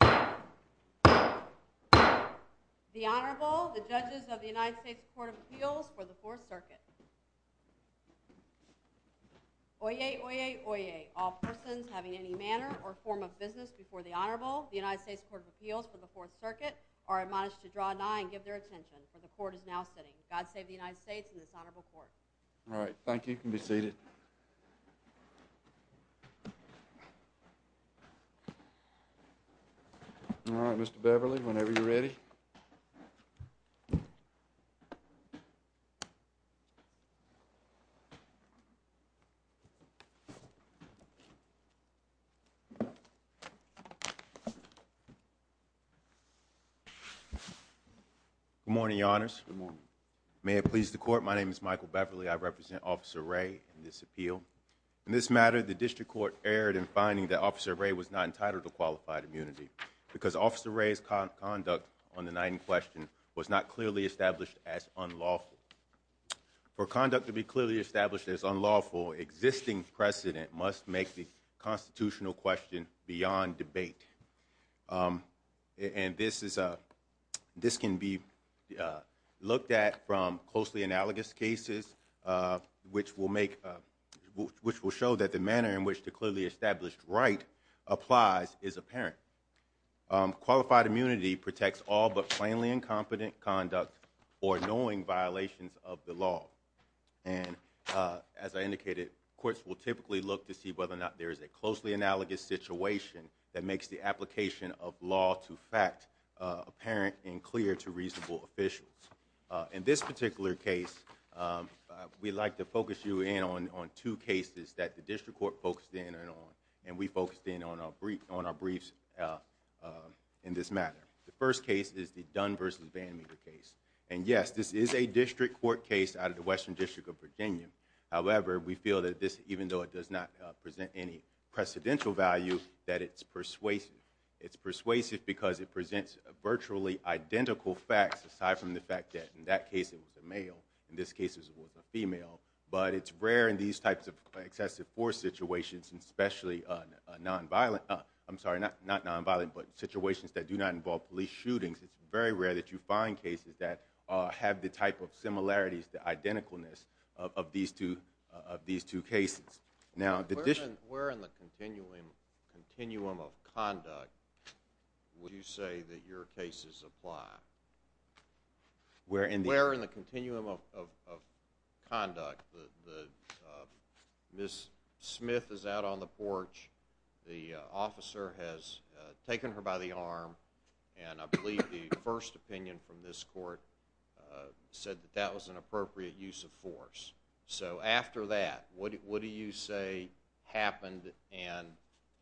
The Honorable, the Judges of the United States Court of Appeals for the Fourth Circuit. Oyez! Oyez! Oyez! All persons having any manner or form of business before the Honorable, the United States Court of Appeals for the Fourth Circuit, are admonished to draw nigh and give their attention, for the Court is now sitting. God save the United States and this Honorable Court. All right. Thank you. You can be seated. All right, Mr. Beverly, whenever you're ready. Good morning, Your Honors. Good morning. May it please the Court, my name is Michael Beverly. I represent Officer Ray in this appeal. In this matter, the District Court erred in finding that Officer Ray was not entitled to qualified immunity, because Officer Ray's conduct on the night in question was not clearly established as unlawful. For conduct to be clearly established as unlawful, existing precedent must make the constitutional question beyond debate. And this can be looked at from closely analogous cases, which will show that the manner in which the clearly established right applies is apparent. Qualified immunity protects all but plainly incompetent conduct or knowing violations of the law. And as I indicated, courts will typically look to see whether or not there is a closely analogous situation that makes the application of law to fact apparent and clear to reasonable officials. In this particular case, we'd like to focus you in on two cases that the District Court focused in on, and we focused in on our briefs in this matter. The first case is the Dunn v. Van Meter case. And yes, this is a District Court case out of the Western District of Virginia. However, we feel that this, even though it does not present any precedential value, that it's persuasive. It's persuasive because it presents virtually identical facts, aside from the fact that in that case it was a male, in this case it was a female. But it's rare in these types of excessive force situations, especially nonviolent, I'm sorry, not nonviolent, but situations that do not involve police shootings. It's very rare that you find cases that have the type of similarities, the identicalness of these two cases. Where in the continuum of conduct would you say that your cases apply? Where in the continuum of conduct? Ms. Smith is out on the porch, the officer has taken her by the arm, and I believe the first opinion from this Court said that that was an appropriate use of force. So, after that, what do you say happened, and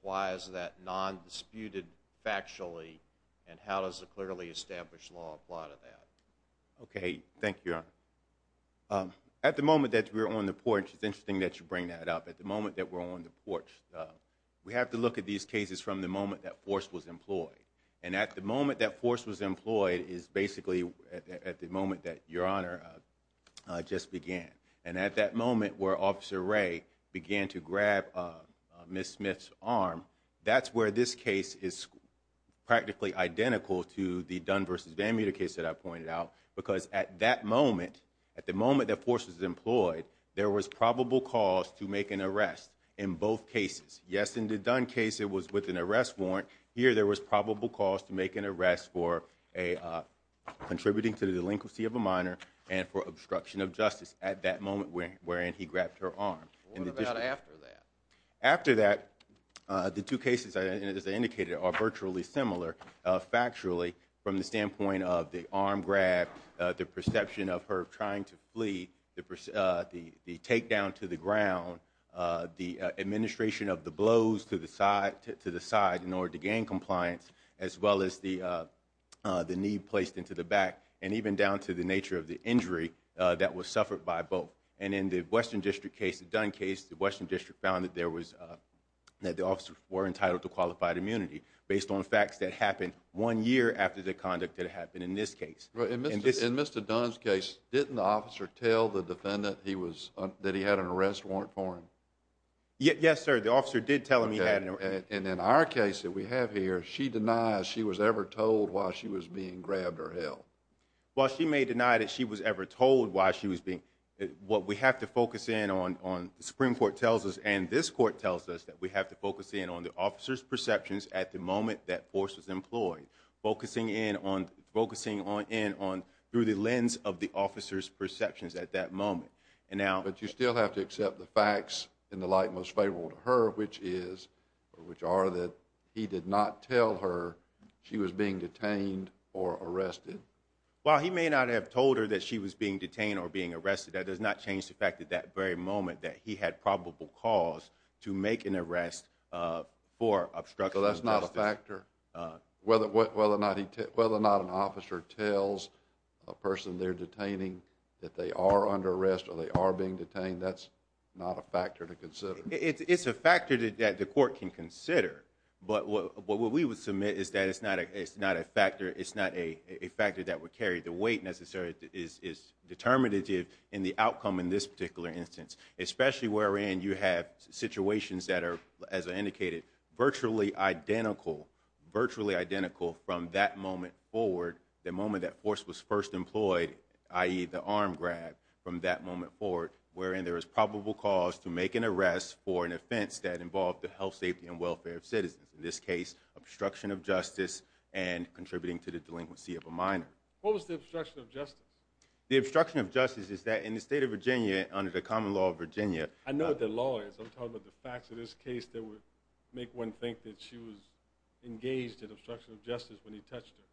why is that non-disputed factually, and how does the clearly established law apply to that? Okay, thank you, Your Honor. At the moment that we're on the porch, it's interesting that you bring that up. At the moment that we're on the porch, we have to look at these cases from the moment that force was employed. And at the moment that force was employed is basically at the moment that Your Honor just began. And at that moment where Officer Ray began to grab Ms. Smith's arm, that's where this case is practically identical to the Dunn v. VanMeter case that I pointed out, because at that moment, at the moment that force was employed, there was probable cause to make an arrest in both cases. Yes, in the Dunn case, it was with an arrest warrant. Here, there was probable cause to make an arrest for contributing to the delinquency of a minor and for obstruction of justice at that moment wherein he grabbed her arm. What about after that? After that, the two cases, as I indicated, are virtually similar factually from the standpoint of the arm grab, the perception of her trying to flee, the takedown to the ground, the administration of the blows to the side in order to gain compliance, as well as the knee placed into the back, and even down to the nature of the injury that was suffered by both. And in the Western District case, the Dunn case, the Western District found that the officers were entitled to qualified immunity based on facts that happened one year after the conduct that happened in this case. In Mr. Dunn's case, didn't the officer tell the defendant that he had an arrest warrant for him? Yes, sir. The officer did tell him he had an arrest warrant. And in our case that we have here, she denies she was ever told why she was being grabbed or held. Well, she may deny that she was ever told why she was being—what we have to focus in on, the Supreme Court tells us, and this Court tells us, that we have to focus in on the officer's perceptions at the moment that force was employed, focusing in on—through the lens of the officer's perceptions at that moment. And now— But you still have to accept the facts in the light most favorable to her, which is, or which are, that he did not tell her she was being detained or arrested. Well, he may not have told her that she was being detained or being arrested. That does not change the fact at that very moment that he had probable cause to make an arrest for obstruction of justice. So that's not a factor, whether or not an officer tells a person they're detaining that they are under arrest or they are being detained, that's not a factor to consider. It's a factor that the Court can consider. But what we would submit is that it's not a factor. It's not a factor that we carry. The weight, necessarily, is determinative in the outcome in this particular instance, especially wherein you have situations that are, as I indicated, virtually identical, virtually identical from that moment forward, the moment that force was first employed, i.e., the arm grab, from that moment forward, wherein there is probable cause to make an arrest for an offense that involved the health, safety, and welfare of citizens. In this case, obstruction of justice and contributing to the delinquency of a minor. What was the obstruction of justice? The obstruction of justice is that in the state of Virginia, under the common law of Virginia— I know what the law is. I'm talking about the facts of this case that would make one think that she was engaged in obstruction of justice when he touched her.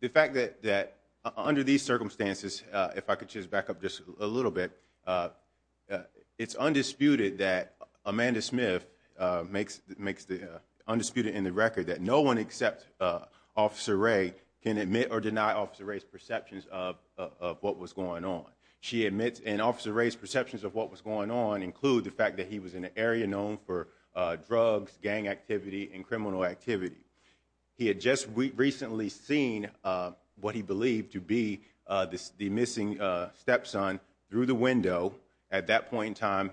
The fact that under these circumstances, if I could just back up just a little bit, it's undisputed that Amanda Smith makes the— undisputed in the record that no one except Officer Ray can admit or deny Officer Ray's perceptions of what was going on. And Officer Ray's perceptions of what was going on include the fact that he was in an area known for drugs, gang activity, and criminal activity. He had just recently seen what he believed to be the missing stepson through the window. At that point in time,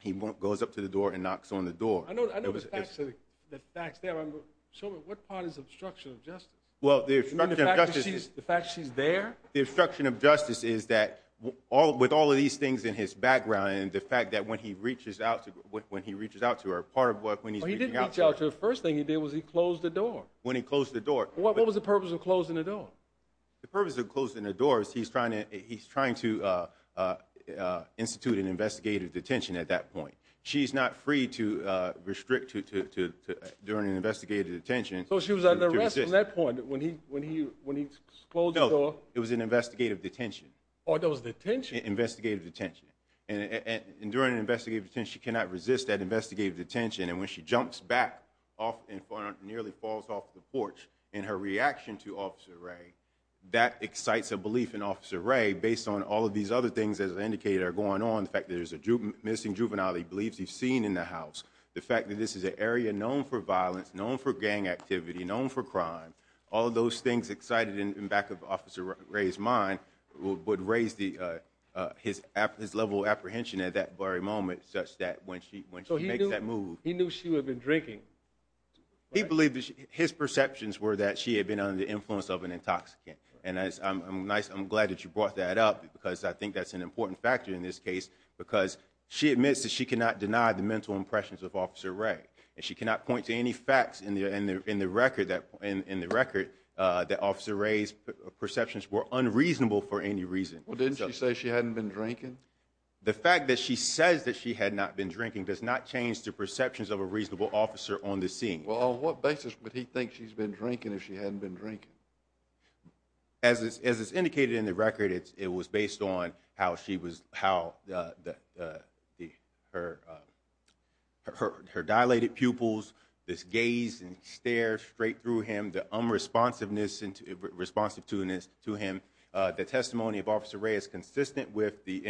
he goes up to the door and knocks on the door. I know the facts there. Show me what part is obstruction of justice. Well, the obstruction of justice— The fact that she's there? The obstruction of justice is that with all of these things in his background and the fact that when he reaches out to her, part of what— Well, he didn't reach out to her. The first thing he did was he closed the door. When he closed the door— What was the purpose of closing the door? The purpose of closing the door is he's trying to institute an investigative detention at that point. She's not free to restrict during an investigative detention. So she was under arrest from that point when he closed the door? It was an investigative detention. Oh, that was detention? Investigative detention. During an investigative detention, she cannot resist that investigative detention, and when she jumps back off and nearly falls off the porch in her reaction to Officer Ray, that excites a belief in Officer Ray based on all of these other things, as I indicated, are going on, the fact that there's a missing juvenile he believes he's seen in the house, the fact that this is an area known for violence, known for gang activity, known for crime, all of those things excited in back of Officer Ray's mind would raise his level of apprehension at that very moment such that when she makes that move— So he knew she would have been drinking? He believed his perceptions were that she had been under the influence of an intoxicant, and I'm glad that you brought that up because I think that's an important factor in this case because she admits that she cannot deny the mental impressions of Officer Ray, and she cannot point to any facts in the record that Officer Ray's perceptions were unreasonable for any reason. Well, didn't she say she hadn't been drinking? The fact that she says that she had not been drinking does not change the perceptions of a reasonable officer on the scene. Well, on what basis would he think she's been drinking if she hadn't been drinking? As is indicated in the record, it was based on how her dilated pupils, this gaze and stare straight through him, the unresponsiveness responsive to him, the testimony of Officer Ray is consistent with the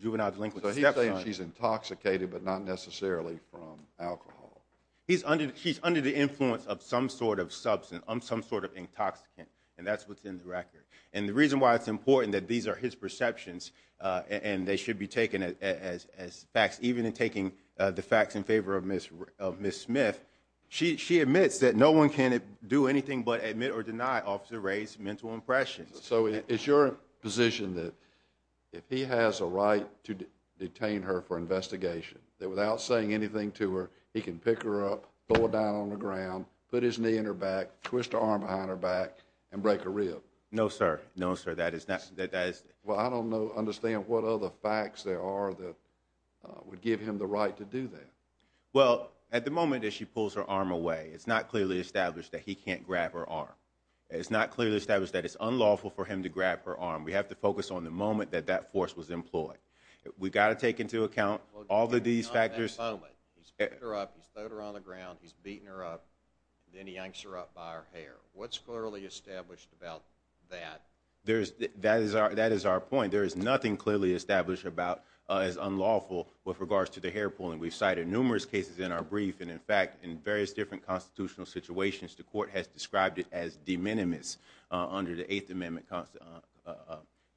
juvenile delinquent stepson. So he's saying she's intoxicated but not necessarily from alcohol. He's under the influence of some sort of substance, some sort of intoxicant, and that's what's in the record. And the reason why it's important that these are his perceptions and they should be taken as facts, even in taking the facts in favor of Ms. Smith, she admits that no one can do anything but admit or deny Officer Ray's mental impressions. So is your position that if he has a right to detain her for investigation, that without saying anything to her, he can pick her up, throw her down on the ground, put his knee in her back, twist her arm behind her back, and break her rib? No, sir. No, sir. That is not – that is – Well, I don't understand what other facts there are that would give him the right to do that. Well, at the moment that she pulls her arm away, it's not clearly established that he can't grab her arm. It's not clearly established that it's unlawful for him to grab her arm. We have to focus on the moment that that force was employed. We've got to take into account all of these factors. He's picked her up, he's thrown her on the ground, he's beaten her up, then he yanks her up by her hair. What's clearly established about that? That is our point. There is nothing clearly established about as unlawful with regards to the hair pulling. We've cited numerous cases in our brief, and, in fact, in various different constitutional situations, the court has described it as de minimis under the Eighth Amendment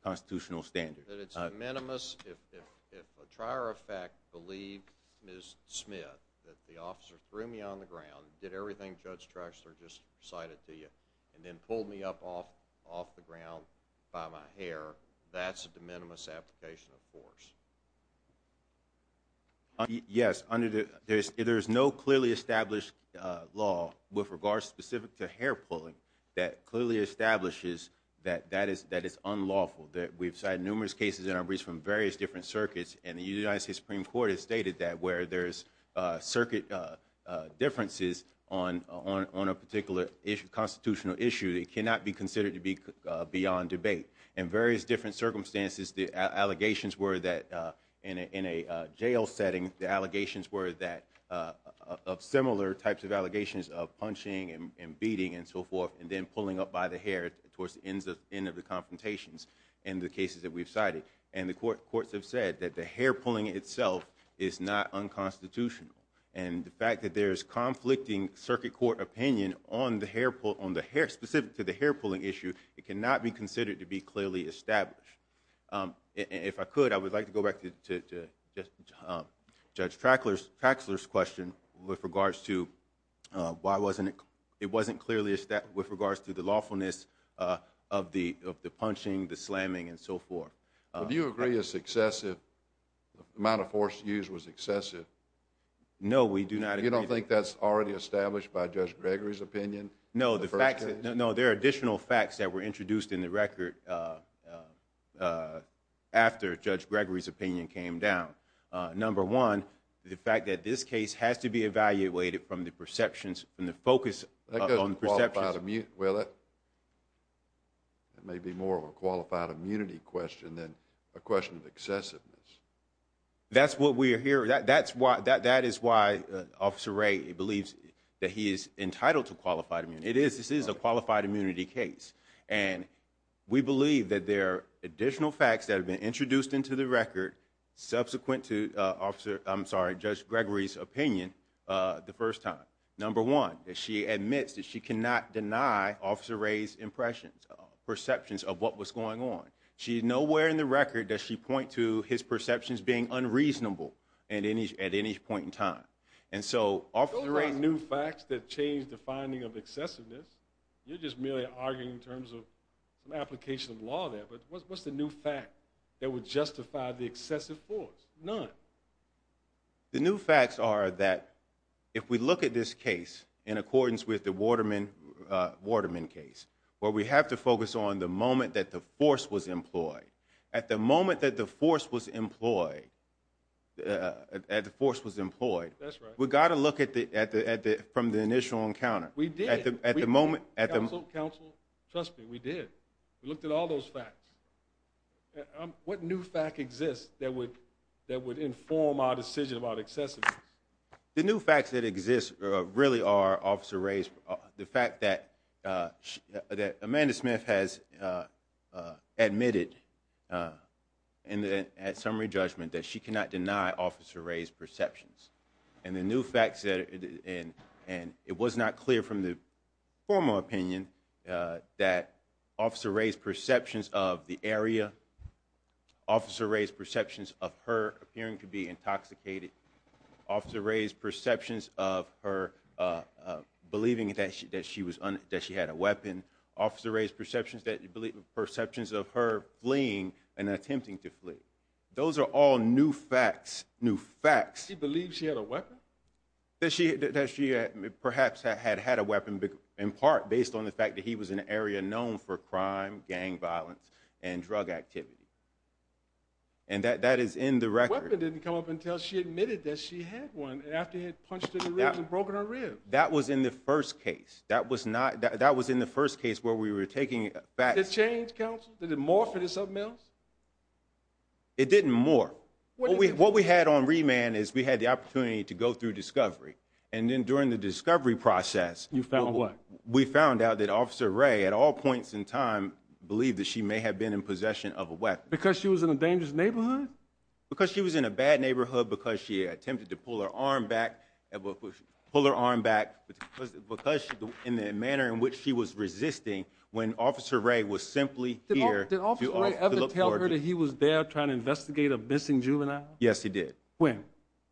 constitutional standard. That it's de minimis if a trier of fact believed Ms. Smith, that the officer threw me on the ground, did everything Judge Trexler just cited to you, and then pulled me up off the ground by my hair, that's a de minimis application of force. Yes, under the – there is no clearly established law with regards specific to hair pulling that clearly establishes that that is unlawful. We've cited numerous cases in our briefs from various different circuits, and the United States Supreme Court has stated that where there's circuit differences on a particular constitutional issue, it cannot be considered to be beyond debate. In various different circumstances, the allegations were that in a jail setting, the allegations were that – of similar types of allegations of punching and beating and so forth, and then pulling up by the hair towards the end of the confrontations in the cases that we've cited. And the courts have said that the hair pulling itself is not unconstitutional. And the fact that there is conflicting circuit court opinion on the hair – specific to the hair pulling issue, it cannot be considered to be clearly established. If I could, I would like to go back to Judge Traxler's question with regards to why wasn't it – it wasn't clearly established with regards to the lawfulness of the punching, the slamming, and so forth. Do you agree a successive amount of force used was excessive? No, we do not agree. You don't think that's already established by Judge Gregory's opinion? No, the fact that – no, there are additional facts that were introduced in the record after Judge Gregory's opinion came down. Number one, the fact that this case has to be evaluated from the perceptions – from the focus on perceptions. That doesn't qualify immunity, will it? That may be more of a qualified immunity question than a question of excessiveness. That's what we are hearing. That's why – that is why Officer Ray believes that he is entitled to qualified immunity. It is – this is a qualified immunity case. And we believe that there are additional facts that have been introduced into the record subsequent to Officer – I'm sorry, Judge Gregory's opinion the first time. Number one, that she admits that she cannot deny Officer Ray's impressions, perceptions of what was going on. She – nowhere in the record does she point to his perceptions being unreasonable at any point in time. And so, Officer Ray – Don't write new facts that change the finding of excessiveness. You're just merely arguing in terms of an application of law there. But what's the new fact that would justify the excessive force? None. The new facts are that if we look at this case in accordance with the Waterman case, where we have to focus on the moment that the force was employed. At the moment that the force was employed – at the force was employed – That's right. We've got to look at the – from the initial encounter. We did. At the moment – Counsel, counsel, trust me, we did. We looked at all those facts. What new fact exists that would inform our decision about excessiveness? The new facts that exist really are Officer Ray's – the fact that Amanda Smith has admitted at summary judgment that she cannot deny Officer Ray's perceptions. And the new facts that – and it was not clear from the formal opinion that Officer Ray's perceptions of the area, Officer Ray's perceptions of her appearing to be intoxicated, Officer Ray's perceptions of her believing that she had a weapon, Officer Ray's perceptions of her fleeing and attempting to flee. Those are all new facts. New facts. She believed she had a weapon? That she perhaps had had a weapon in part based on the fact that he was in an area known for crime, and that is in the record. The weapon didn't come up until she admitted that she had one, and after he had punched her in the ribs and broken her ribs. That was in the first case. That was not – that was in the first case where we were taking facts – Did it change, counsel? Did it morph into something else? It didn't morph. What we had on remand is we had the opportunity to go through discovery, and then during the discovery process – You found what? We found out that Officer Ray, at all points in time, believed that she may have been in possession of a weapon. Because she was in a dangerous neighborhood? Because she was in a bad neighborhood, because she attempted to pull her arm back, because in the manner in which she was resisting when Officer Ray was simply here to look for her. Did Officer Ray ever tell her that he was there trying to investigate a missing juvenile? Yes, he did. When?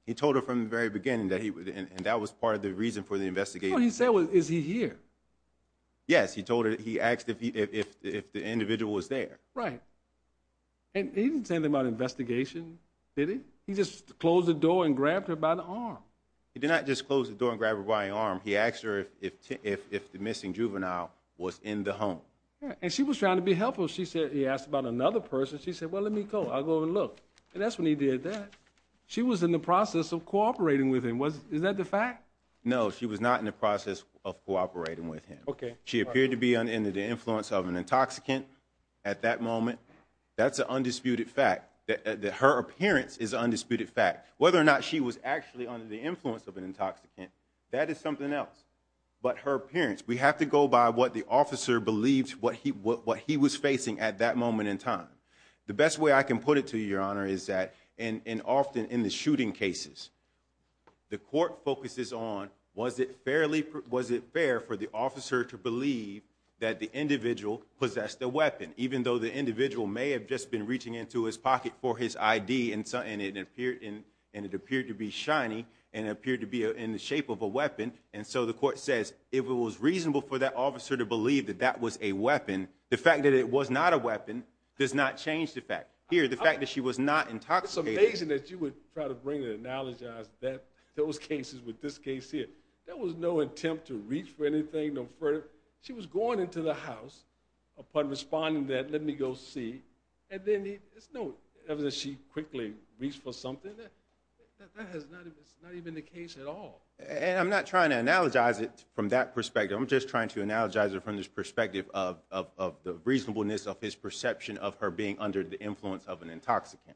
He told her from the very beginning, and that was part of the reason for the investigation. That's what he said was, is he here? Yes, he told her – he asked if the individual was there. Right. And he didn't say anything about investigation, did he? He just closed the door and grabbed her by the arm. He did not just close the door and grab her by the arm. He asked her if the missing juvenile was in the home. And she was trying to be helpful. She said – he asked about another person. She said, well, let me go. I'll go over and look. She was in the process of cooperating with him. Is that the fact? No, she was not in the process of cooperating with him. Okay. She appeared to be under the influence of an intoxicant at that moment. That's an undisputed fact, that her appearance is an undisputed fact. Whether or not she was actually under the influence of an intoxicant, that is something else. But her appearance, we have to go by what the officer believed what he was facing at that moment in time. The best way I can put it to you, Your Honor, is that – and often in the shooting cases, the court focuses on was it fairly – was it fair for the officer to believe that the individual possessed a weapon, even though the individual may have just been reaching into his pocket for his ID and it appeared to be shiny and it appeared to be in the shape of a weapon. And so the court says if it was reasonable for that officer to believe that that was a weapon, the fact that it was not a weapon does not change the fact. Here, the fact that she was not intoxicated – It's amazing that you would try to bring and analogize those cases with this case here. There was no attempt to reach for anything, no further – she was going into the house. Upon responding to that, let me go see. And then there's no evidence that she quickly reached for something. That has not even been the case at all. And I'm not trying to analogize it from that perspective. I'm just trying to analogize it from this perspective of the reasonableness of his perception of her being under the influence of an intoxicant.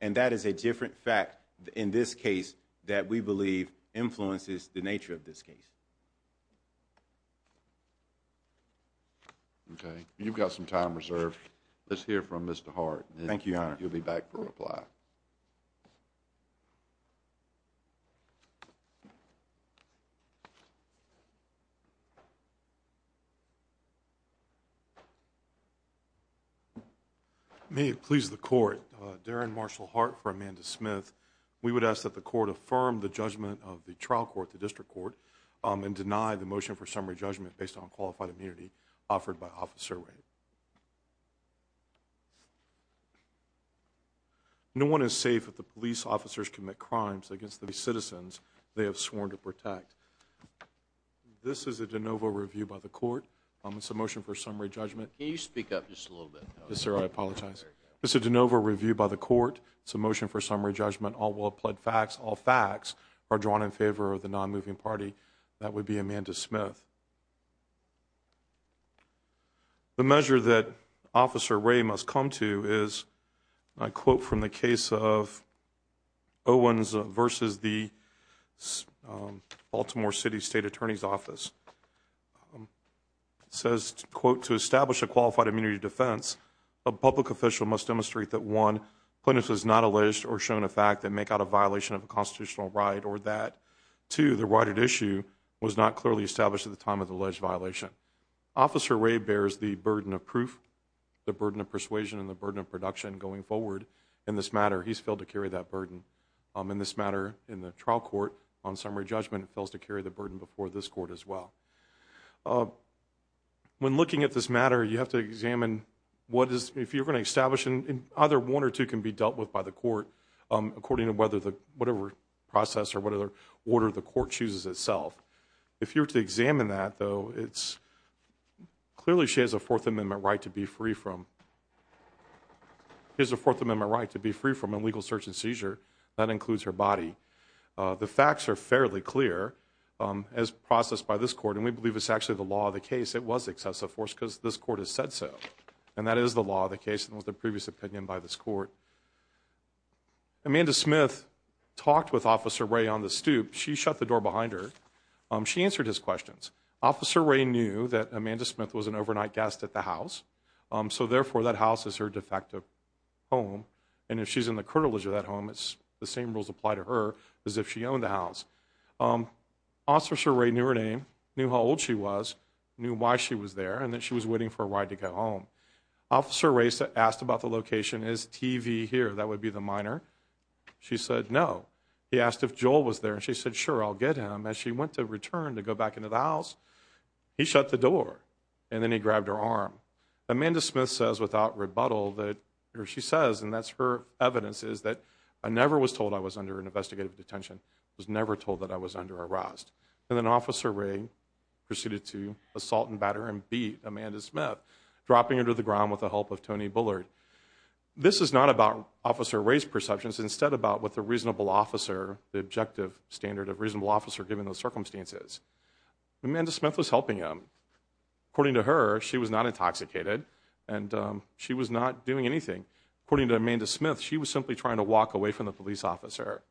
And that is a different fact in this case that we believe influences the nature of this case. Okay. You've got some time reserved. Let's hear from Mr. Hart. Thank you, Your Honor. You'll be back for reply. May it please the Court, Darren Marshall Hart for Amanda Smith. We would ask that the Court affirm the judgment of the trial court, the district court, and deny the motion for summary judgment based on qualified immunity offered by Officer Ray. No one is safe if the police officers commit crimes against the citizens they have sworn to protect. This is a de novo review by the Court. It's a motion for summary judgment. Can you speak up just a little bit? Yes, sir. I apologize. It's a de novo review by the Court. It's a motion for summary judgment. All will have pled facts. All facts are drawn in favor of the non-moving party. That would be Amanda Smith. The measure that Officer Ray must come to is, I quote from the case of Owens versus the Baltimore City State Attorney's Office. It says, quote, to establish a qualified immunity defense, a public official must demonstrate that, one, plaintiffs was not alleged or shown a fact that make out a violation of a constitutional right or that, two, the right at issue was not clearly established at the time of the alleged violation. Officer Ray bears the burden of proof, the burden of persuasion, and the burden of production going forward in this matter. He's filled to carry that burden. In this matter, in the trial court, on summary judgment, it fails to carry the burden before this court as well. When looking at this matter, you have to examine what is, if you're going to establish, and either one or two can be dealt with by the court according to whether the, whatever process or whatever order the court chooses itself. If you were to examine that, though, it's, clearly she has a Fourth Amendment right to be free from, has a Fourth Amendment right to be free from illegal search and seizure. That includes her body. The facts are fairly clear as processed by this court, and we believe it's actually the law of the case. It was excessive force because this court has said so, and that is the law of the case and was the previous opinion by this court. Amanda Smith talked with Officer Ray on the stoop. She shut the door behind her. She answered his questions. Officer Ray knew that Amanda Smith was an overnight guest at the house, so, therefore, that house is her defective home, and if she's in the curtilage of that home, the same rules apply to her as if she owned the house. Officer Ray knew her name, knew how old she was, knew why she was there, and that she was waiting for a ride to get home. Officer Ray asked about the location. Is TV here? That would be the minor. She said no. He asked if Joel was there, and she said, sure, I'll get him. As she went to return to go back into the house, he shut the door, and then he grabbed her arm. Amanda Smith says without rebuttal that, or she says, and that's her evidence, is that I never was told I was under an investigative detention. I was never told that I was under arrest. And then Officer Ray proceeded to assault and batter and beat Amanda Smith, dropping her to the ground with the help of Tony Bullard. This is not about Officer Ray's perceptions, instead about what the reasonable officer, the objective standard of reasonable officer, given those circumstances. Amanda Smith was helping him. According to her, she was not intoxicated, and she was not doing anything. According to Amanda Smith, she was simply trying to walk away from the police officer.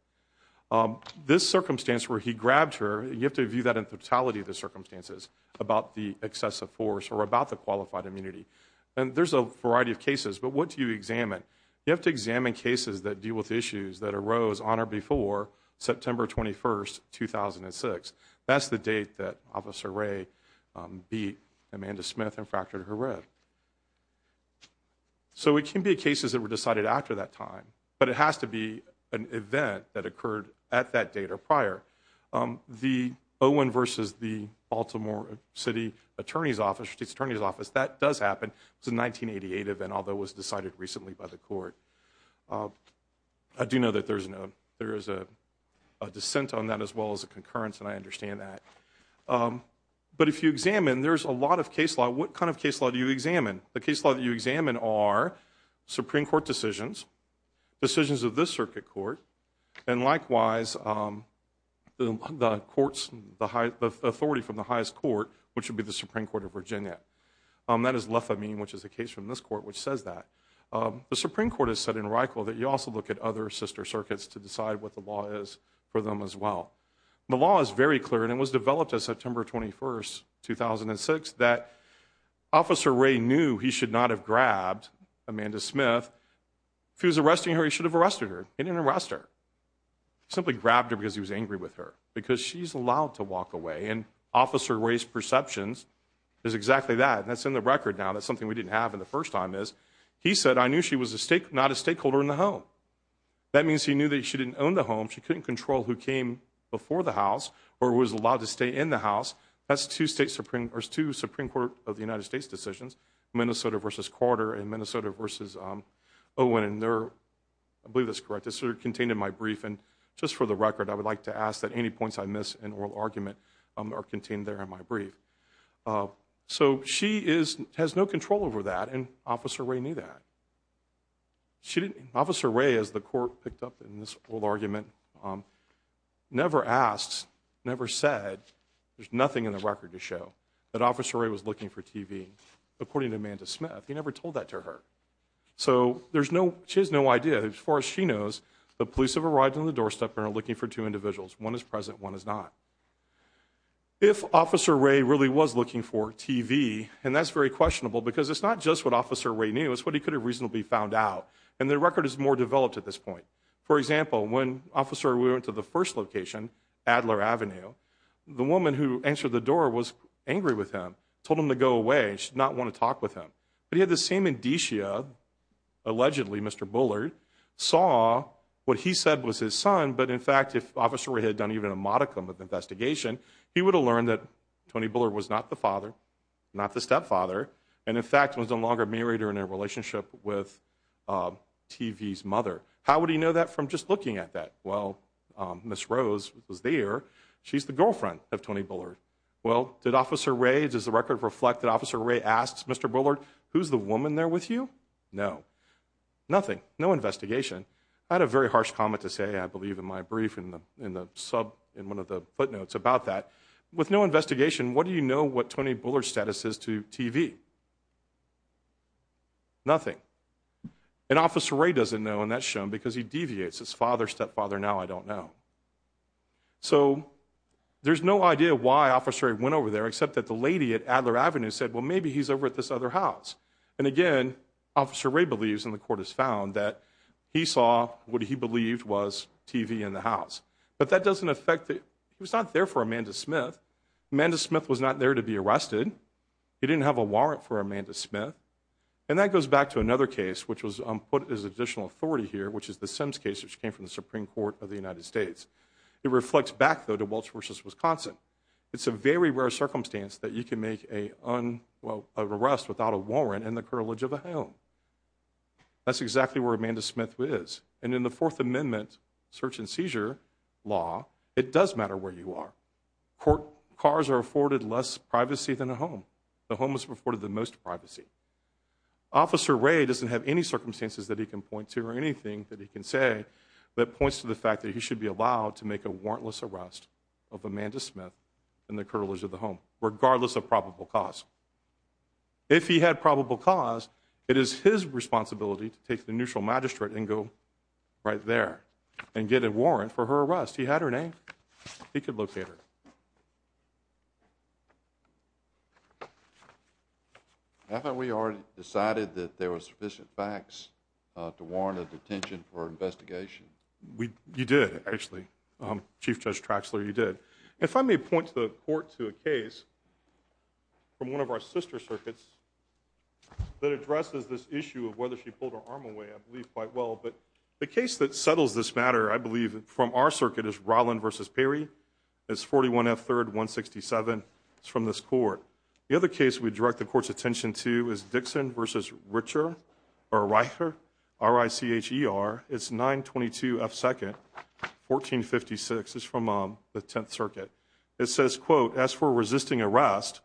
This circumstance where he grabbed her, you have to view that in totality, the circumstances, about the excessive force or about the qualified immunity. And there's a variety of cases, but what do you examine? You have to examine cases that deal with issues that arose on or before September 21, 2006. That's the date that Officer Ray beat Amanda Smith and fractured her rib. So it can be cases that were decided after that time, but it has to be an event that occurred at that date or prior. The Owen versus the Baltimore City Attorney's Office, that does happen. It was a 1988 event, although it was decided recently by the court. I do know that there is a dissent on that as well as a concurrence, and I understand that. But if you examine, there's a lot of case law. What kind of case law do you examine? The case law that you examine are Supreme Court decisions, decisions of this circuit court, and likewise the courts, the authority from the highest court, which would be the Supreme Court of Virginia. That is Lefamine, which is a case from this court, which says that. The Supreme Court has said in Reichel that you also look at other sister circuits to decide what the law is for them as well. The law is very clear, and it was developed on September 21, 2006, that Officer Ray knew he should not have grabbed Amanda Smith. If he was arresting her, he should have arrested her. He didn't arrest her. He simply grabbed her because he was angry with her, because she's allowed to walk away. And Officer Ray's perceptions is exactly that, and that's in the record now. That's something we didn't have in the first time is he said, I knew she was not a stakeholder in the home. That means he knew that she didn't own the home. She couldn't control who came before the house or was allowed to stay in the house. That's two Supreme Court of the United States decisions, Minnesota v. Carter and Minnesota v. Owen, and I believe that's correct. It's contained in my brief, and just for the record, I would like to ask that any points I miss in oral argument are contained there in my brief. So she has no control over that, and Officer Ray knew that. Officer Ray, as the court picked up in this oral argument, never asked, never said, there's nothing in the record to show that Officer Ray was looking for TV. According to Amanda Smith, he never told that to her. So she has no idea. As far as she knows, the police have arrived on the doorstep and are looking for two individuals. One is present, one is not. If Officer Ray really was looking for TV, and that's very questionable, because it's not just what Officer Ray knew, it's what he could have reasonably found out, and the record is more developed at this point. For example, when Officer Ray went to the first location, Adler Avenue, the woman who answered the door was angry with him, told him to go away, and she did not want to talk with him. But he had the same indicia, allegedly, Mr. Bullard, saw what he said was his son, but in fact, if Officer Ray had done even a modicum of investigation, he would have learned that Tony Bullard was not the father, not the stepfather, and in fact was no longer married or in a relationship with TV's mother. How would he know that from just looking at that? Well, Ms. Rose was there. She's the girlfriend of Tony Bullard. Well, did Officer Ray, does the record reflect that Officer Ray asked Mr. Bullard, who's the woman there with you? No. Nothing. No investigation. I had a very harsh comment to say, I believe, in my brief in one of the footnotes about that. With no investigation, what do you know what Tony Bullard's status is to TV? Nothing. And Officer Ray doesn't know, and that's shown because he deviates. His father, stepfather, now I don't know. So there's no idea why Officer Ray went over there, except that the lady at Adler Avenue said, well, maybe he's over at this other house. And, again, Officer Ray believes, and the court has found, that he saw what he believed was TV in the house. But that doesn't affect the – he was not there for Amanda Smith. Amanda Smith was not there to be arrested. He didn't have a warrant for Amanda Smith. And that goes back to another case, which was put as additional authority here, which is the Sims case, which came from the Supreme Court of the United States. It reflects back, though, to Welch v. Wisconsin. It's a very rare circumstance that you can make an arrest without a warrant and the curtilage of a home. That's exactly where Amanda Smith is. And in the Fourth Amendment search and seizure law, it does matter where you are. Cars are afforded less privacy than a home. The home is afforded the most privacy. Officer Ray doesn't have any circumstances that he can point to or anything that he can say that points to the fact that he should be allowed to make a warrantless arrest of Amanda Smith and the curtilage of the home, regardless of probable cause. If he had probable cause, it is his responsibility to take the neutral magistrate and go right there and get a warrant for her arrest. He had her name. He could locate her. Haven't we already decided that there were sufficient facts to warrant a detention for investigation? You did, actually. Chief Judge Traxler, you did. If I may point the court to a case from one of our sister circuits that addresses this issue of whether she pulled her arm away, I believe quite well. But the case that settles this matter, I believe, from our circuit is Rolland v. Perry. It's 41 F. 3rd, 167. It's from this court. The other case we direct the court's attention to is Dixon v. Richer, R-I-C-H-E-R. It's 922 F. 2nd, 1456. It's from the Tenth Circuit. It says, quote, As for resisting arrest,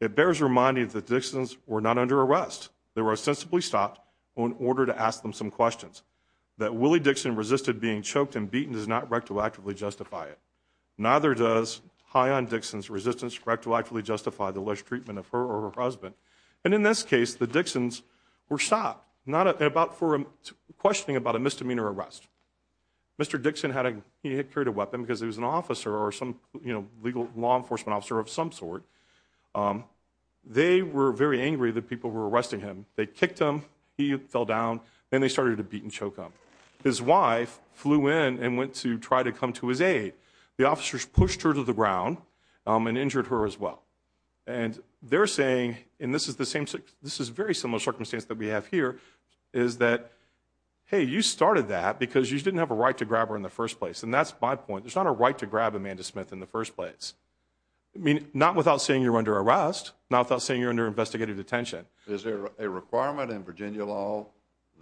it bears reminding that Dixons were not under arrest. They were ostensibly stopped in order to ask them some questions. That Willie Dixon resisted being choked and beaten does not rectoactively justify it. Neither does high-end Dixon's resistance rectoactively justify the less treatment of her or her husband. And in this case, the Dixons were stopped for questioning about a misdemeanor arrest. Mr. Dixon had carried a weapon because he was an officer or some legal law enforcement officer of some sort. They were very angry that people were arresting him. They kicked him. He fell down. Then they started to beat and choke him. His wife flew in and went to try to come to his aid. The officers pushed her to the ground and injured her as well. And they're saying, and this is very similar circumstance that we have here, is that, hey, you started that because you didn't have a right to grab her in the first place. And that's my point. There's not a right to grab Amanda Smith in the first place. I mean, not without saying you're under arrest, not without saying you're under investigative detention. Is there a requirement in Virginia law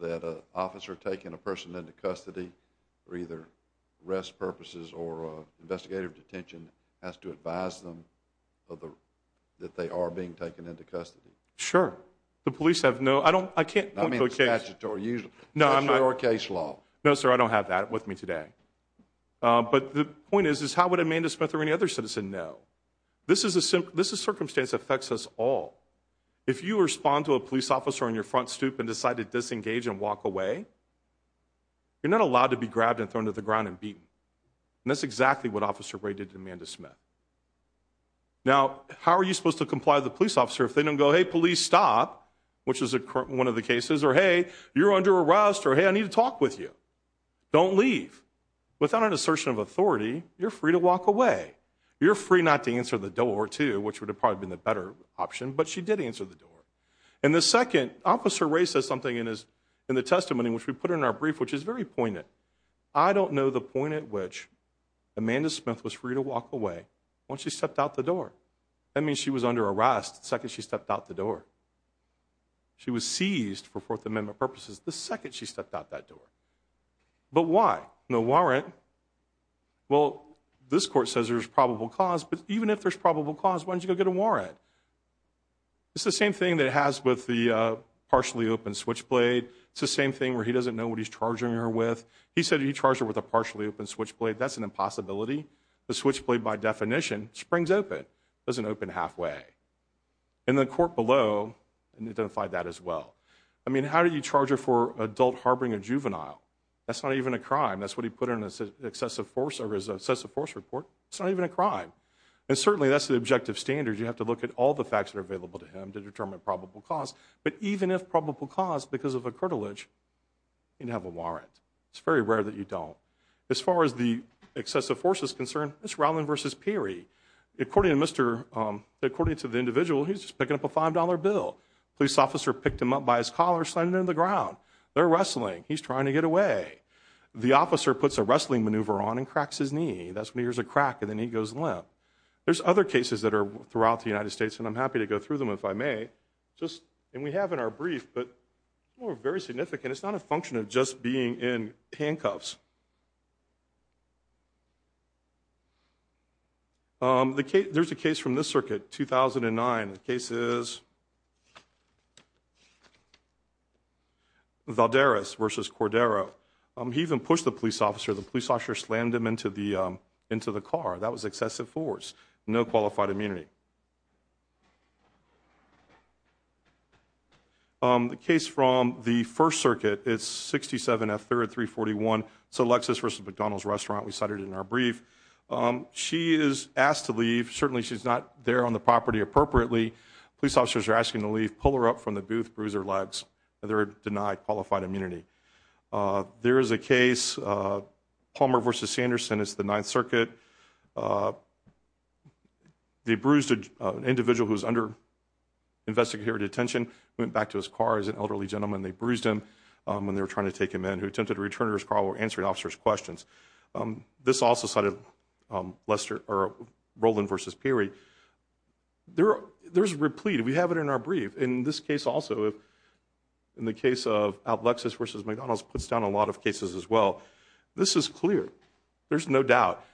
that an officer taking a person into custody for either arrest purposes or investigative detention has to advise them that they are being taken into custody? Sure. The police have no, I don't, I can't point to a case. I mean, it's statutory usually. No, I'm not. That's your case law. No, sir, I don't have that with me today. But the point is, is how would Amanda Smith or any other citizen know? This is a circumstance that affects us all. If you respond to a police officer on your front stoop and decide to disengage and walk away, you're not allowed to be grabbed and thrown to the ground and beaten. And that's exactly what Officer Ray did to Amanda Smith. Now, how are you supposed to comply with the police officer if they don't go, hey, police, stop, which is one of the cases, or, hey, you're under arrest, or, hey, I need to talk with you. Don't leave. Without an assertion of authority, you're free to walk away. You're free not to answer the door, too, which would have probably been the better option. But she did answer the door. And the second, Officer Ray says something in the testimony, which we put in our brief, which is very pointed. I don't know the point at which Amanda Smith was free to walk away once she stepped out the door. That means she was under arrest the second she stepped out the door. She was seized for Fourth Amendment purposes the second she stepped out that door. But why? No warrant. Well, this court says there's probable cause, but even if there's probable cause, why don't you go get a warrant? It's the same thing that it has with the partially open switchblade. It's the same thing where he doesn't know what he's charging her with. He said he charged her with a partially open switchblade. That's an impossibility. The switchblade, by definition, springs open. It doesn't open halfway. And the court below identified that as well. I mean, how do you charge her for adult harboring a juvenile? That's not even a crime. That's what he put in his excessive force report. It's not even a crime. And certainly that's the objective standard. You have to look at all the facts that are available to him to determine probable cause. But even if probable cause, because of a cartilage, you can have a warrant. It's very rare that you don't. As far as the excessive force is concerned, it's Rowland v. Peary. According to the individual, he's just picking up a $5 bill. Police officer picked him up by his collar, slammed him to the ground. They're wrestling. He's trying to get away. The officer puts a wrestling maneuver on and cracks his knee. That's when he hears a crack, and then he goes limp. There's other cases that are throughout the United States, and I'm happy to go through them if I may. And we have in our brief, but very significant. It's not a function of just being in handcuffs. There's a case from this circuit, 2009. The case is Valderas v. Cordero. He even pushed the police officer. The police officer slammed him into the car. That was excessive force. No qualified immunity. The case from the First Circuit, it's 67 F. 3rd, 341. It's a Lexus v. McDonald's restaurant. We cited it in our brief. She is asked to leave. Certainly she's not there on the property appropriately. Police officers are asking to leave. Pull her up from the booth, bruise her legs. They're denied qualified immunity. There is a case, Palmer v. Sanderson. It's the Ninth Circuit. They bruised an individual who was under investigative detention, went back to his car as an elderly gentleman. They bruised him when they were trying to take him in. Who attempted to return to his car while answering officers' questions. This also cited Rowland v. Perry. There's a replete. We have it in our brief. In this case also, in the case of Lexus v. McDonald's puts down a lot of cases as well. This is clear. There's no doubt.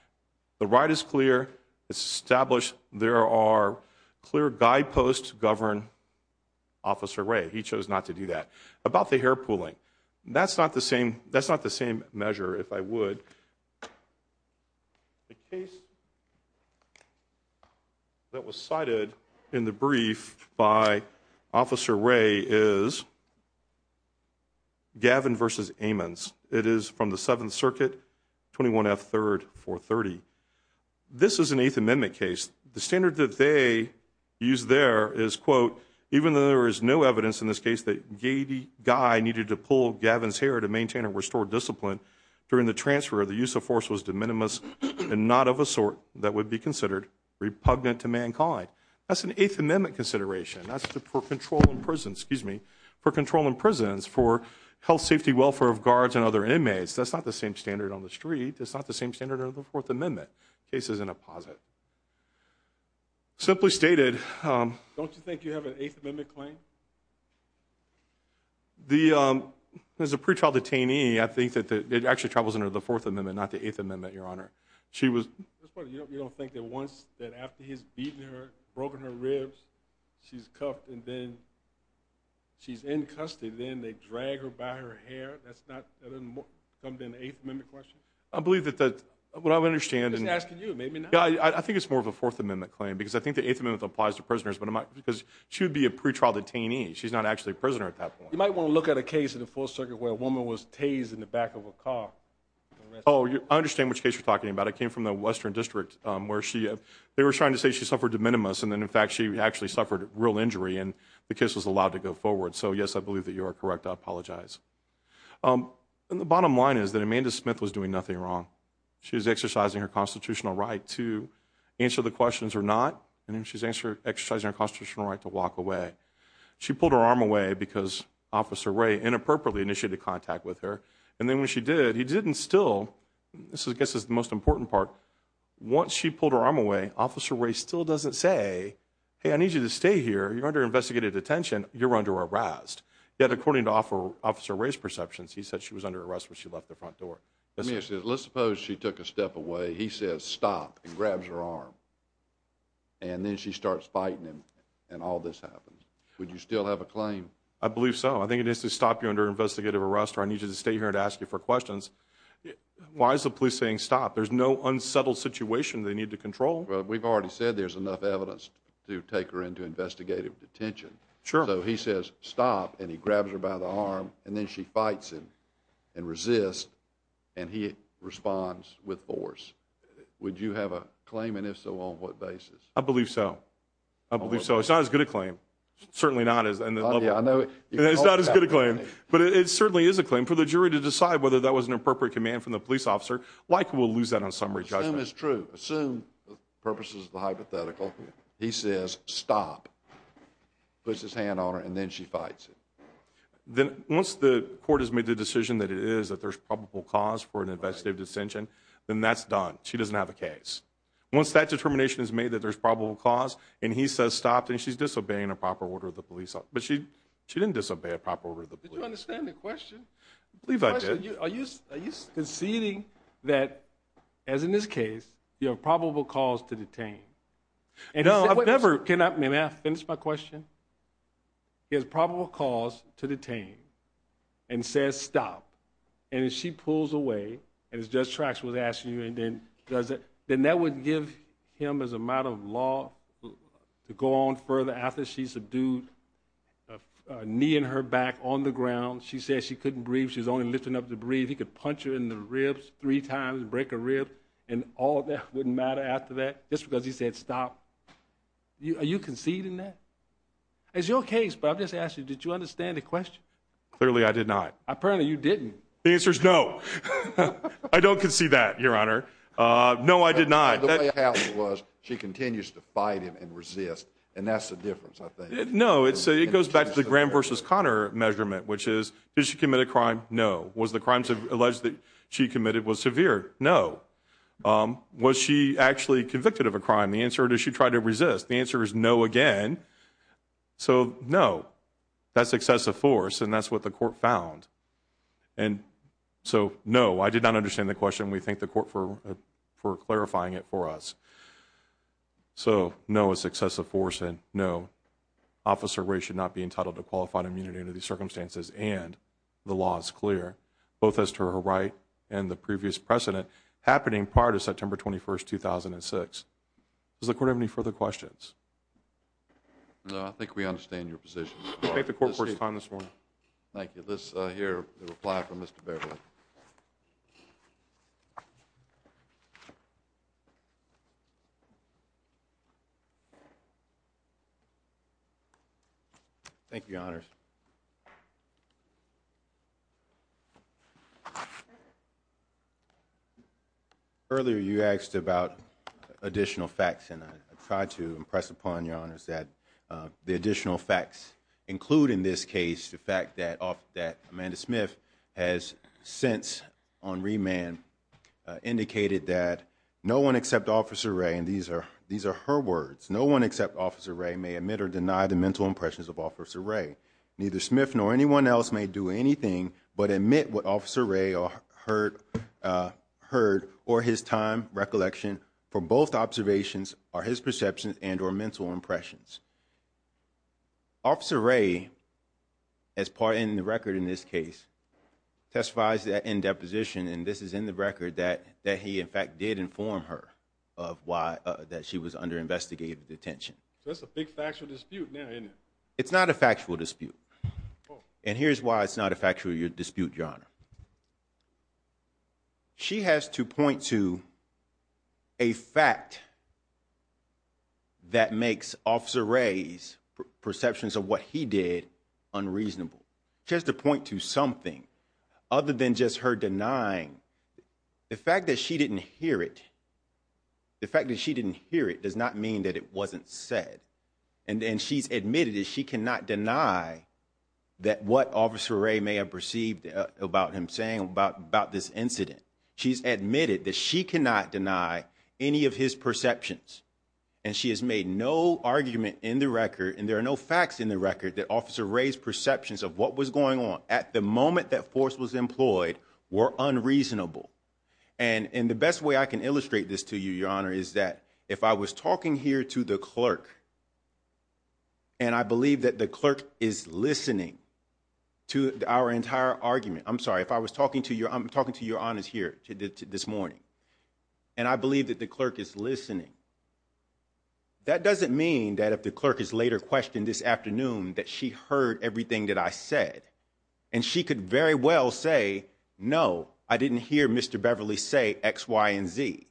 The right is clear. It's established. There are clear guideposts to govern Officer Ray. He chose not to do that. About the hair pulling. That's not the same measure, if I would. The case that was cited in the brief by Officer Ray is Gavin v. Ammons. It is from the Seventh Circuit, 21F, 3rd, 430. This is an Eighth Amendment case. The standard that they use there is, quote, even though there is no evidence in this case that Guy needed to pull Gavin's hair to maintain or restore discipline, during the transfer, the use of force was de minimis and not of a sort that would be considered repugnant to mankind. That's an Eighth Amendment consideration. That's for control in prisons for health, safety, welfare of guards and other inmates. That's not the same standard on the street. It's not the same standard under the Fourth Amendment. The case is in a posit. Simply stated. Don't you think you have an Eighth Amendment claim? As a pretrial detainee, I think that it actually travels under the Fourth Amendment, not the Eighth Amendment, Your Honor. You don't think that after he's beaten her, broken her ribs, she's cuffed and then she's in custody, then they drag her by her hair? That doesn't come to an Eighth Amendment question? I believe that what I understand. I think it's more of a Fourth Amendment claim because I think the Eighth Amendment applies to prisoners because she would be a pretrial detainee. She's not actually a prisoner at that point. You might want to look at a case in the Fourth Circuit where a woman was tased in the back of a car. I understand which case you're talking about. I came from the Western District where they were trying to say she suffered de minimis, and then, in fact, she actually suffered real injury and the case was allowed to go forward. So, yes, I believe that you are correct. I apologize. The bottom line is that Amanda Smith was doing nothing wrong. She was exercising her constitutional right to answer the questions or not, and then she's exercising her constitutional right to walk away. She pulled her arm away because Officer Ray inappropriately initiated contact with her, and then when she did, he didn't still. This, I guess, is the most important part. Once she pulled her arm away, Officer Ray still doesn't say, hey, I need you to stay here. You're under investigative detention. You're under arrest. Yet, according to Officer Ray's perceptions, he said she was under arrest when she left the front door. Let's suppose she took a step away. He says stop and grabs her arm, and then she starts fighting him and all this happens. Would you still have a claim? I believe so. I think it is to stop you under investigative arrest or I need you to stay here and ask you for questions. Why is the police saying stop? There's no unsettled situation they need to control. We've already said there's enough evidence to take her into investigative detention. Sure. So he says stop, and he grabs her by the arm, and then she fights him and resists, and he responds with force. Would you have a claim? And if so, on what basis? I believe so. I believe so. It's not as good a claim. Certainly not. It's not as good a claim, but it certainly is a claim. For the jury to decide whether that was an appropriate command from the police officer, likely we'll lose that on summary judgment. Assume it's true. Assume, for purposes of the hypothetical, he says stop. Puts his hand on her, and then she fights him. Once the court has made the decision that it is, that there's probable cause for an investigative detention, then that's done. She doesn't have a case. Once that determination is made that there's probable cause, and he says stop, then she's disobeying a proper order of the police officer. But she didn't disobey a proper order of the police officer. Did you understand the question? I believe I did. Are you conceding that, as in this case, you have probable cause to detain? May I finish my question? He has probable cause to detain, and says stop. And if she pulls away, as Judge Trax was asking you, then that would give him, as a matter of law, to go on further. After she's subdued, kneeing her back on the ground, she says she couldn't breathe, she was only lifting up to breathe. He could punch her in the ribs three times and break a rib, and all of that wouldn't matter after that. Just because he said stop. Are you conceding that? It's your case, but I'm just asking, did you understand the question? Clearly I did not. Apparently you didn't. The answer is no. I don't concede that, Your Honor. No, I did not. The way I counted was she continues to fight him and resist, and that's the difference, I think. No, it goes back to the Graham v. Conner measurement, which is, did she commit a crime? No. Was the crime alleged that she committed was severe? No. Was she actually convicted of a crime? The answer, did she try to resist? The answer is no again. So, no. That's excessive force, and that's what the court found. And so, no, I did not understand the question. We thank the court for clarifying it for us. So, no, it's excessive force, and no. Officer Ray should not be entitled to qualified immunity under these circumstances, and the law is clear, both as to her right and the previous precedent. Happening prior to September 21, 2006. Does the court have any further questions? No, I think we understand your position. We thank the court for its time this morning. Thank you. Let's hear a reply from Mr. Beverly. Thank you, Your Honors. Earlier, you asked about additional facts, and I tried to impress upon Your Honors that the additional facts include, in this case, the fact that Amanda Smith has since, on remand, indicated that no one except Officer Ray, and these are her words, no one except Officer Ray may admit or deny the mental impressions of Officer Ray. Neither Smith nor anyone else may do anything but admit what Officer Ray heard or his time recollection for both observations or his perceptions and or mental impressions. Officer Ray, as part in the record in this case, testifies that in deposition, and this is in the record, that he in fact did inform her that she was under investigative detention. So that's a big factual dispute now, isn't it? It's not a factual dispute, and here's why it's not a factual dispute, Your Honor. She has to point to a fact that makes Officer Ray's perceptions of what he did unreasonable. She has to point to something other than just her denying. The fact that she didn't hear it, the fact that she didn't hear it does not mean that it wasn't said, and she's admitted that she cannot deny that what Officer Ray may have perceived about him saying about this incident. She's admitted that she cannot deny any of his perceptions, and she has made no argument in the record, and there are no facts in the record, that Officer Ray's perceptions of what was going on at the moment that force was employed were unreasonable. And the best way I can illustrate this to you, Your Honor, is that if I was talking here to the clerk, and I believe that the clerk is listening to our entire argument, I'm sorry, if I was talking to Your Honor here this morning, and I believe that the clerk is listening, that doesn't mean that if the clerk is later questioned this afternoon that she heard everything that I said, and she could very well say, no, I didn't hear Mr. Beverly say X, Y, and Z.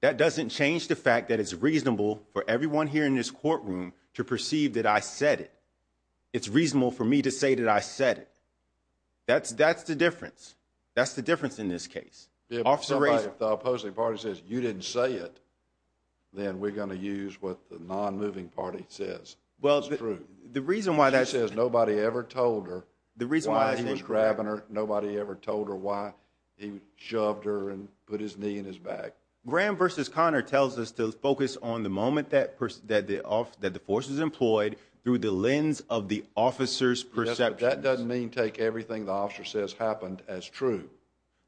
That doesn't change the fact that it's reasonable for everyone here in this courtroom to perceive that I said it. It's reasonable for me to say that I said it. That's the difference. That's the difference in this case. If the opposing party says you didn't say it, then we're going to use what the non-moving party says is true. She says nobody ever told her why he was grabbing her. Nobody ever told her why he shoved her and put his knee in his back. Graham v. Conner tells us to focus on the moment that the force was employed through the lens of the officer's perceptions. That doesn't mean take everything the officer says happened as true.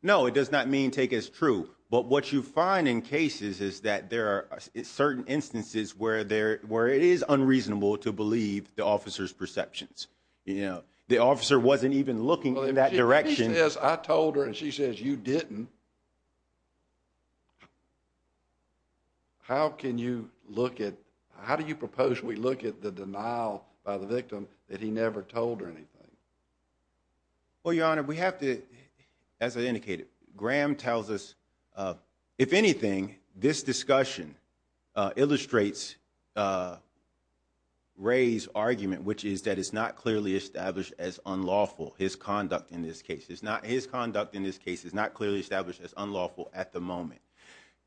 No, it does not mean take as true. But what you find in cases is that there are certain instances where it is unreasonable to believe the officer's perceptions. The officer wasn't even looking in that direction. If she says I told her and she says you didn't, how do you propose we look at the denial by the victim that he never told her anything? Well, Your Honor, we have to, as I indicated, Graham tells us, if anything, this discussion illustrates Ray's argument, which is that it's not clearly established as unlawful, his conduct in this case. His conduct in this case is not clearly established as unlawful at the moment.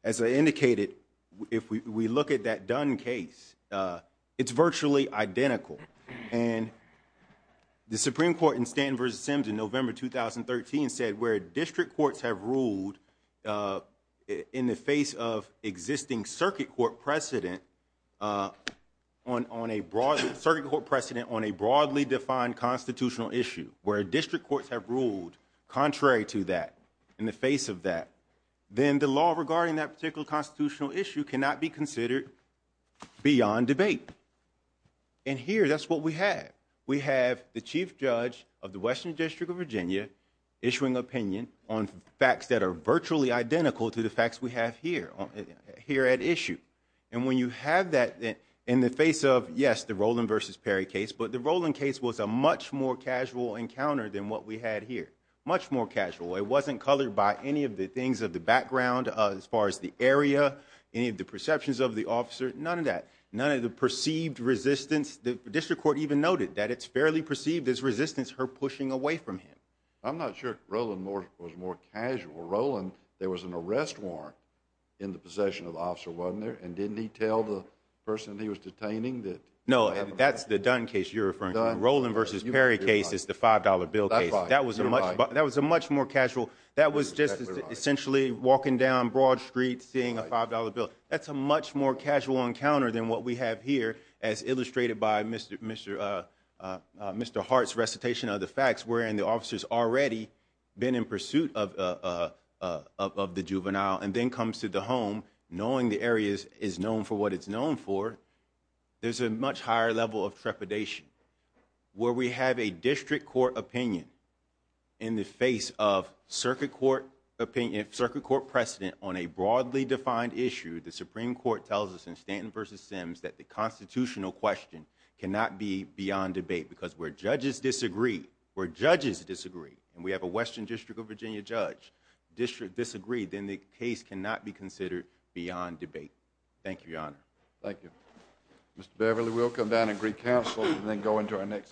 As I indicated, if we look at that Dunn case, it's virtually identical. And the Supreme Court in Stanton v. Sims in November 2013 said where district courts have ruled in the face of existing circuit court precedent on a broadly defined constitutional issue, where district courts have ruled contrary to that, in the face of that, then the law regarding that particular constitutional issue cannot be considered beyond debate. And here, that's what we have. We have the chief judge of the Western District of Virginia issuing opinion on facts that are virtually identical to the facts we have here at issue. And when you have that in the face of, yes, the Roland v. Perry case, but the Roland case was a much more casual encounter than what we had here. Much more casual. It wasn't colored by any of the things of the background as far as the area, any of the perceptions of the officer, none of that. The perceived resistance, the district court even noted that it's fairly perceived as resistance, her pushing away from him. I'm not sure Roland was more casual. Roland, there was an arrest warrant in the possession of the officer, wasn't there? And didn't he tell the person he was detaining that? No, that's the Dunn case you're referring to. The Roland v. Perry case is the $5 bill case. That was a much more casual. That was just essentially walking down Broad Street seeing a $5 bill. That's a much more casual encounter than what we have here as illustrated by Mr. Hart's recitation of the facts wherein the officer's already been in pursuit of the juvenile. And then comes to the home knowing the area is known for what it's known for. There's a much higher level of trepidation. Where we have a district court opinion in the face of circuit court precedent on a broadly defined issue, the Supreme Court tells us in Stanton v. Sims that the constitutional question cannot be beyond debate. Because where judges disagree, where judges disagree, and we have a Western District of Virginia judge disagree, then the case cannot be considered beyond debate. Thank you, Your Honor. Thank you. Mr. Beverly, we'll come down and recounsel and then go into our next case.